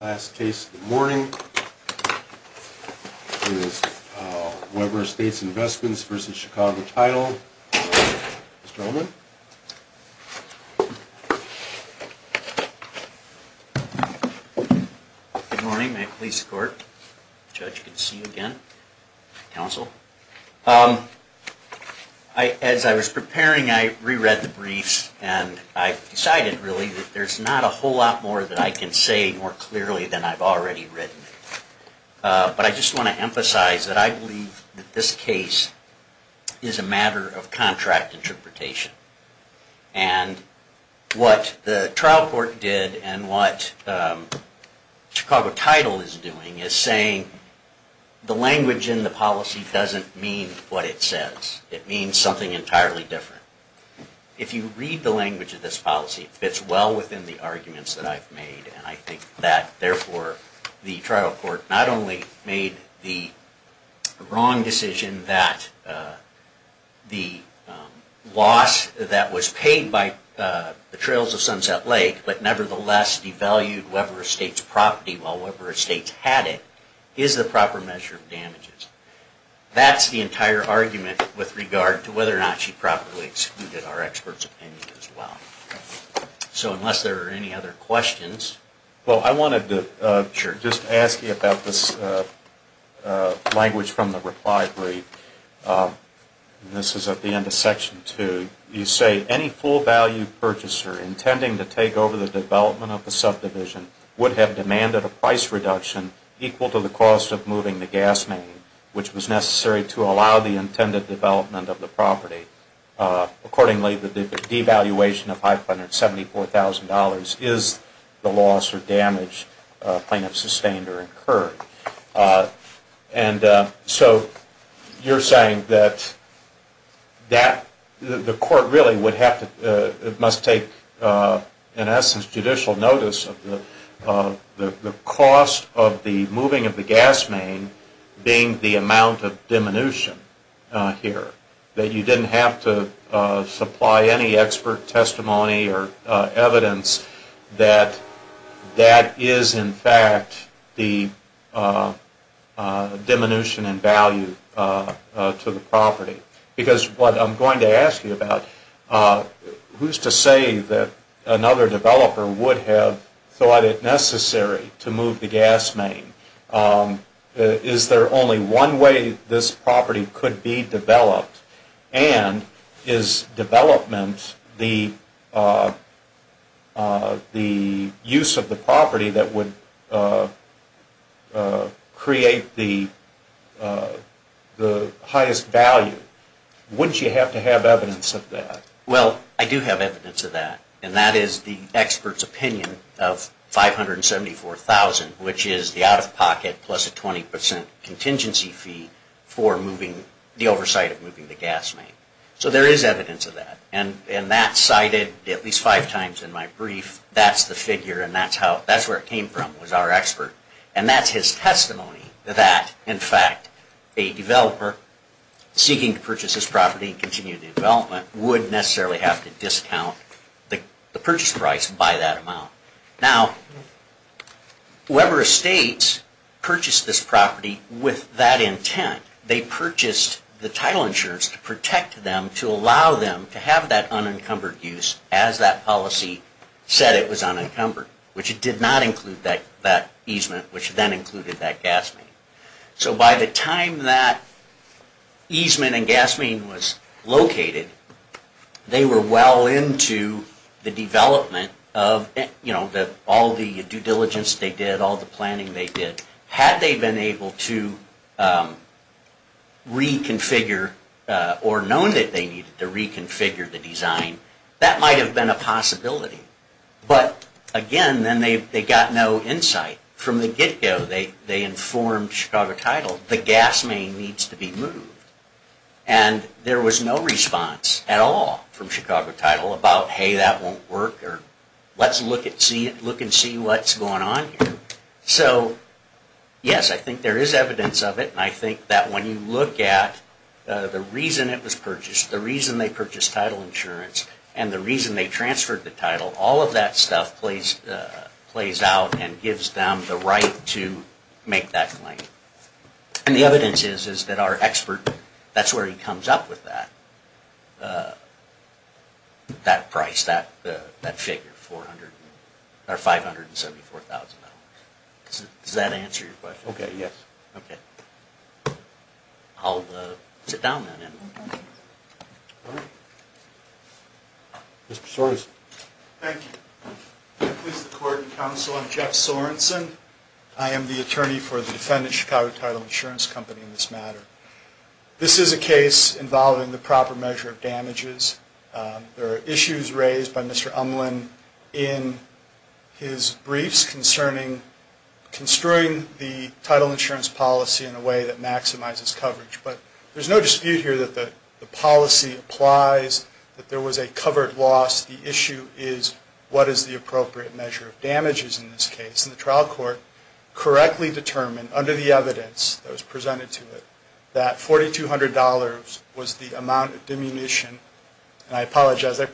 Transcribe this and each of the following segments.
Last case of the morning is Weber Estates Investments v. Chicago Title. Mr. Ullman. Good morning. May I please support? Judge, good to see you again. Counsel. As I was preparing, I reread the briefs and I decided really that there's not a whole lot more that I can say more clearly than I've already written. But I just want to emphasize that I believe that this case is a matter of contract interpretation. And what the trial court did and what Chicago Title is doing is saying the language in the policy doesn't mean what it says. It means something entirely different. If you read the language of this policy, it fits well within the arguments that I've made. And I think that, therefore, the trial court not only made the wrong decision that the loss that was paid by the trails of Sunset Lake, but nevertheless devalued Weber Estates' property while Weber Estates had it, is the proper measure of damages. That's the entire argument with regard to whether or not she properly excluded our experts' opinion as well. So unless there are any other questions. Well, I wanted to just ask you about this language from the reply brief. This is at the end of Section 2. You say, any full value purchaser intending to take over the development of the subdivision would have demanded a price reduction equal to the cost of moving the gas main, which was necessary to allow the intended development of the property. Accordingly, the devaluation of $574,000 is the loss or damage plaintiff sustained or incurred. And so you're saying that the court really would have to, must take, in essence, judicial notice of the cost of the moving of the gas main being the amount of supply any expert testimony or evidence that that is, in fact, the diminution in value to the property? Because what I'm going to ask you about, who's to say that another developer would have thought it necessary to move the gas main? Is there only one way this property could be developed? And is development the use of the property that would create the highest value? Wouldn't you have to have evidence of that? Well, I do have evidence of that. And that is the expert's opinion of $574,000, which is the out-of-pocket plus a 20% contingency fee for moving, the oversight of moving the gas main. So there is evidence of that. And that's cited at least five times in my brief. That's the figure and that's how, that's where it came from, was our expert. And that's his testimony that, in fact, a developer seeking to purchase this property and would necessarily have to discount the purchase price by that amount. Now, Weber Estates purchased this property with that intent. They purchased the title insurance to protect them, to allow them to have that unencumbered use as that policy said it was unencumbered, which it did not include that which then included that gas main. So by the time that easement and gas main was located, they were well into the development of, you know, all the due diligence they did, all the planning they did. Had they been able to reconfigure or known that they needed to reconfigure the design, that might have been a possibility. But again, then they got no insight. From the get-go, they informed Chicago Title, the gas main needs to be moved. And there was no response at all from Chicago Title about, hey, that won't work, or let's look and see what's going on here. So, yes, I think there is evidence of it. And I think that when you look at the reason it was purchased, the reason they purchased title insurance, and the reason they transferred the title, all of that stuff plays out and gives them the right to make that claim. And the evidence is that our expert, that's where he comes up with that, that price, that figure, $574,000. Does that answer your Yes. Okay. I'll sit down then. Mr. Sorensen. Thank you. I'm Jeff Sorensen. I am the attorney for the defendant Chicago Title Insurance Company in this matter. This is a case involving the proper measure of damages. There are issues raised by Mr. Umland in his briefs concerning construing the title insurance policy in a way that maximizes coverage. But there's no dispute here that the policy applies, that there was a covered loss. The issue is what is the appropriate measure of damages in this case. And the trial court correctly determined under the evidence that was presented to it that $4,200 was the amount of diminution. And I apologize, the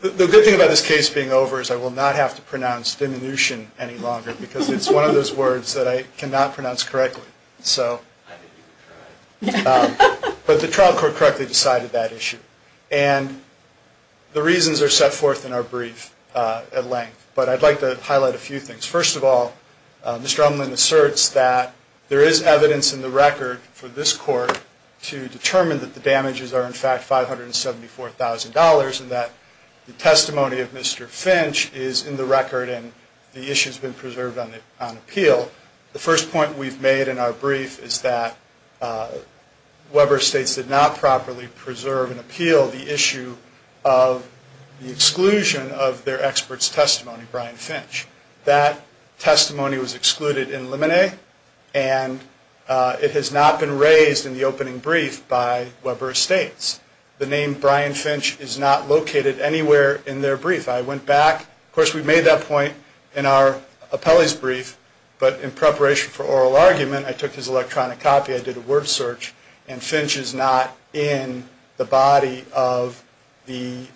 good thing about this case being over is I will not have to pronounce diminution any longer because it's one of those words that I cannot pronounce correctly. So, but the trial court correctly decided that First of all, Mr. Umland asserts that there is evidence in the record for this court to determine that the damages are in fact $574,000 and that the testimony of Mr. Finch is in the record and the issue has been preserved on appeal. The first point we've made in our brief is that Weber Estates did not properly preserve and appeal the issue of the exclusion of their expert's testimony, Brian Finch. That testimony was excluded in preparation for oral argument. I took his electronic copy, I did a word search, and Finch is not in the body of the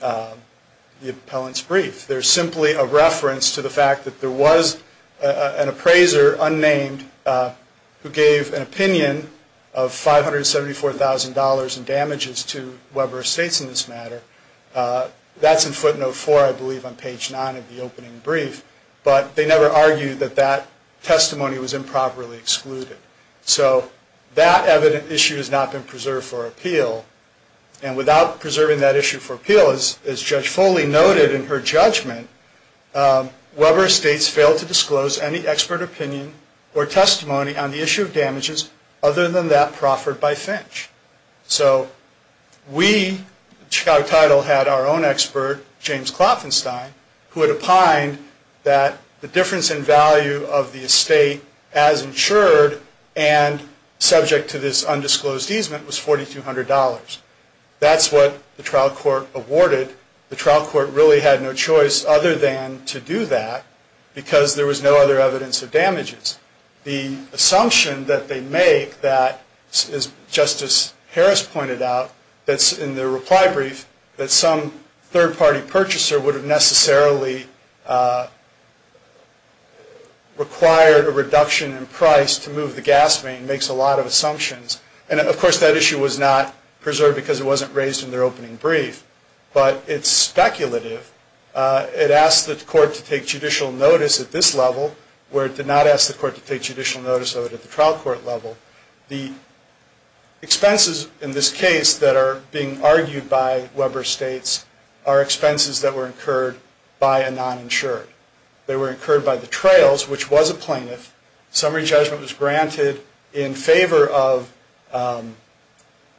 appellant's brief. There's simply a reference to the fact that there was an appraiser, unnamed, who gave an opinion of $574,000 in damages to Weber Estates in this matter. That's in footnote 4, I believe, on page 9 of the opening brief. But they never argued that that testimony was improperly excluded. So that evident issue has not been preserved for appeal. And without preserving that issue for appeal, as Judge Foley noted in her judgment, Weber Estates failed to disclose any expert opinion or testimony on the issue of damages other than that proffered by Finch. So we, Chicago Title, had our own expert, James Klopfenstein, who had opined that the difference in value of the estate as insured and subject to this undisclosed easement was $4,200. That's what the trial court awarded. The trial court really had no choice other than to do that because there was no other evidence of damages. The assumption that they make that, as Justice Harris pointed out, that's in the reply brief, that some third-party purchaser would have necessarily required a reduction in price to move the gas main makes a lot of assumptions. And, of course, that issue was not preserved because it wasn't raised in their opening brief. But it's speculative. It asked the court to take judicial notice at this level, where it did not ask the court to take judicial notice of it at the trial court level. The expenses in this case that are being argued by Weber Estates are expenses that were incurred by a non-insurer. They were incurred by the trails, which was a plaintiff. Summary judgment was granted in favor of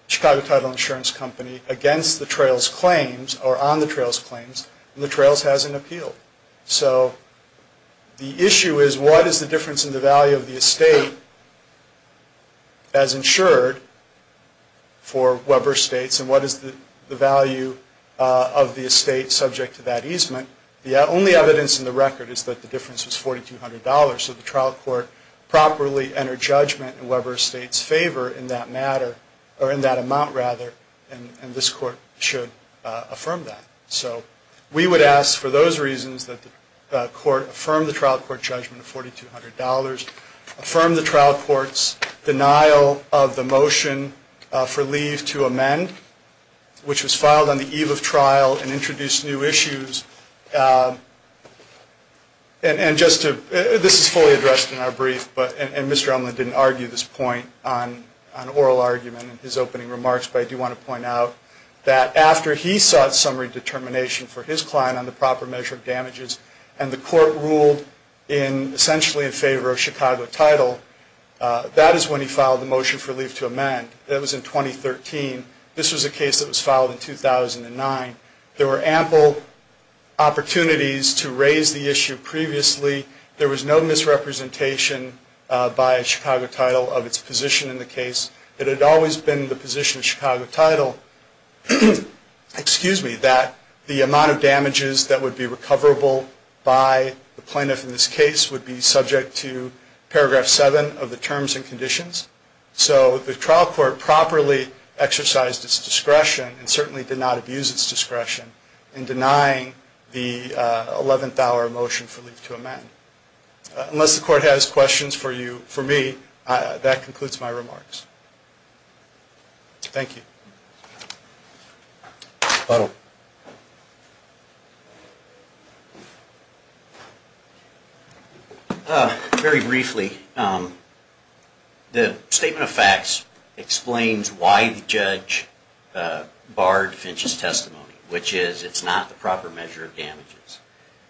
Chicago Title Insurance Company against the trails' claims, or on the trails' claims, and the trails has an appeal. So the issue is what is the difference in the value of the estate as insured for Weber Estates and what is the value of the estate subject to that easement? The only evidence in the record is that the difference is $4,200. So the trial court properly entered judgment in Weber Estates' favor in that matter, or in that amount, rather, and this court should affirm that. So we would ask for those reasons that the court affirm the trial court judgment of $4,200, affirm the trial court's denial of the motion for leave to amend, which was filed on the eve of trial and introduced new issues. And just to, this is fully addressed in our brief, and Mr. Umland didn't argue this point on oral argument in his opening remarks, but I do want to point out that after he sought summary determination for his client on the proper measure of damages, and the court ruled in, essentially in favor of Chicago title, that is when he filed the motion for leave to amend. That was in 2013. This was a case that was filed in 2009. There were ample opportunities for the court to do that, but the court did not have the capacity to do that. There were no opportunities to raise the issue previously. There was no misrepresentation by Chicago title of its position in the case. It had always been the position of Chicago title, excuse me, that the amount of damages that would be recoverable by the plaintiff in this case would be subject to paragraph 7 of the terms and conditions. So the trial court properly exercised its discretion, and certainly did not abuse its discretion, in denying the 11th hour motion for leave to amend. Unless the court has questions for you, for me, that concludes my remarks. Thank you. Very briefly, the statement of facts explains why the judge barred Finch's testimony, which is it's not the proper measure of damages.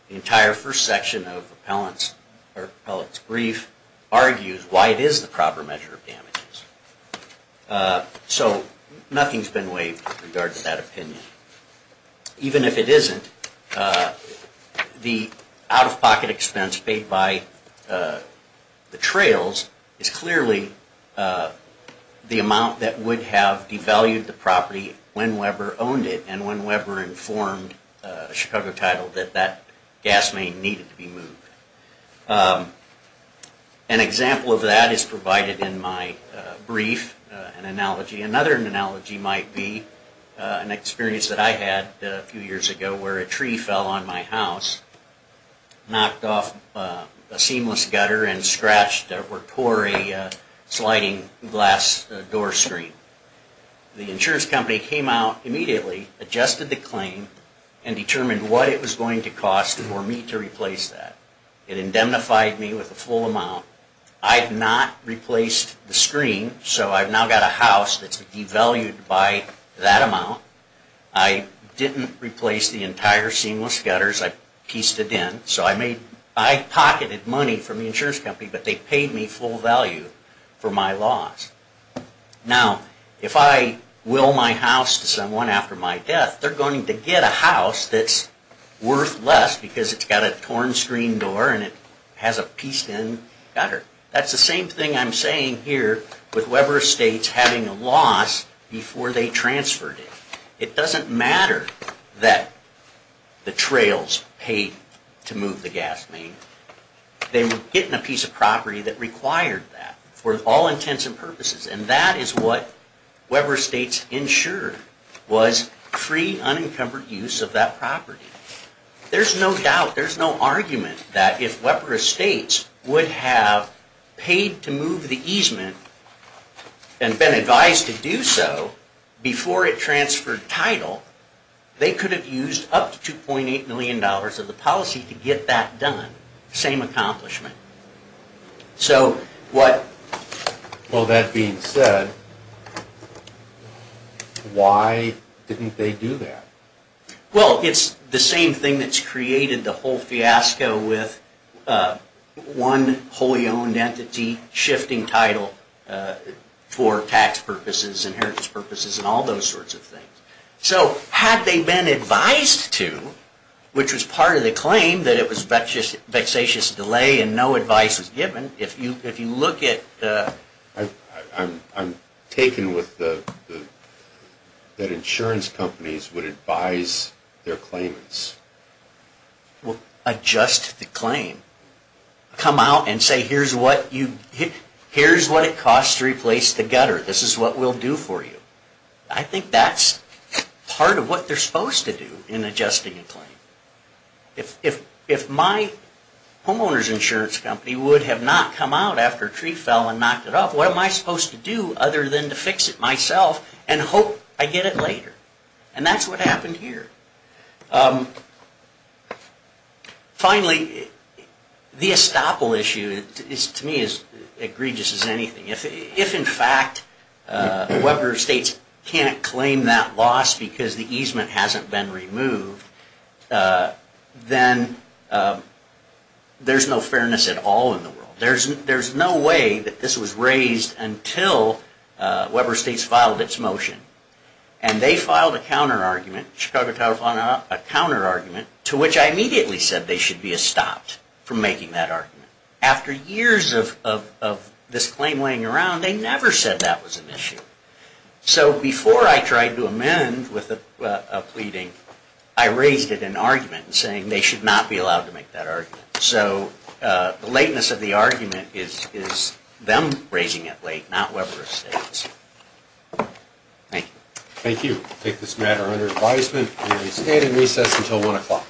The entire first section of the appellate's brief argues why it is the proper measure of damages. So nothing's been waived in regard to that opinion. Even if it isn't, the out-of-pocket expense paid by the trails is clearly the amount that would have devalued the property when Weber owned it, and when Weber informed Chicago title that that gas main needed to be moved. An example of that is provided in my brief, an analogy. Another analogy might be an experience that I had a few years ago where a tree fell on my house, knocked off a seamless gutter, and scratched or tore a sliding glass door screen. The insurance company came out immediately, adjusted the claim, and determined what it was going to cost for me to replace that. It indemnified me with a full amount. I had not replaced the screen, so I've now got a house that's devalued by that amount. I didn't replace the entire seamless gutters, I pieced it in. So I pocketed money from the insurance company, but they paid me full value for my loss. Now, if I will my house to someone after my death, they're going to get a house that's worth less because it's got a torn screen door and it has a pieced in gutter. That's the same thing I'm saying here with Weber Estates having a loss before they transferred it. It doesn't matter that the trails paid to move the gas main. They were getting a piece of property that required that for all intents and purposes, and that is what Weber Estates ensured was free, unencumbered use of that property. There's no doubt, there's no argument that if Weber Estates would have paid to move the easement and been advised to do so before it transferred title, they could have used up to $2.8 million of the policy to get that done. Same accomplishment. Well, that being said, why didn't they do that? Well, it's the same thing that's created the whole fiasco with one wholly owned entity shifting title for tax purposes, inheritance purposes, and all those sorts of things. So had they been advised to, which was part of the claim that it was vexatious delay and no advice was given, if you look at... I'm taken with the... that insurance companies would advise their claimants. Well, adjust the claim. Come out and say here's what it costs to replace the gutter. This is what we'll do for you. I think that's part of what they're supposed to do in adjusting a claim. If my homeowner's insurance company would have not come out after a tree fell and knocked it up, what am I supposed to do other than to fix it myself and hope I get it later? And that's what happened here. Finally, the estoppel issue is to me as egregious as anything. If in fact Weber Estates can't claim that loss because the easement hasn't been removed, then there's no fairness at all in the world. There's no way that this was raised until Weber Estates filed its motion. And they filed a counterargument, Chicago County filed a counterargument, to which I immediately said they should be estopped from making that argument. After years of this claim laying around, they never said that was an issue. So before I tried to amend with a pleading, I raised it in an argument saying they should not be allowed to make that argument. So the lateness of the argument is them raising it late, not Weber Estates. Thank you. Thank you. We'll take this matter under advisement and we stand in recess until 1 o'clock.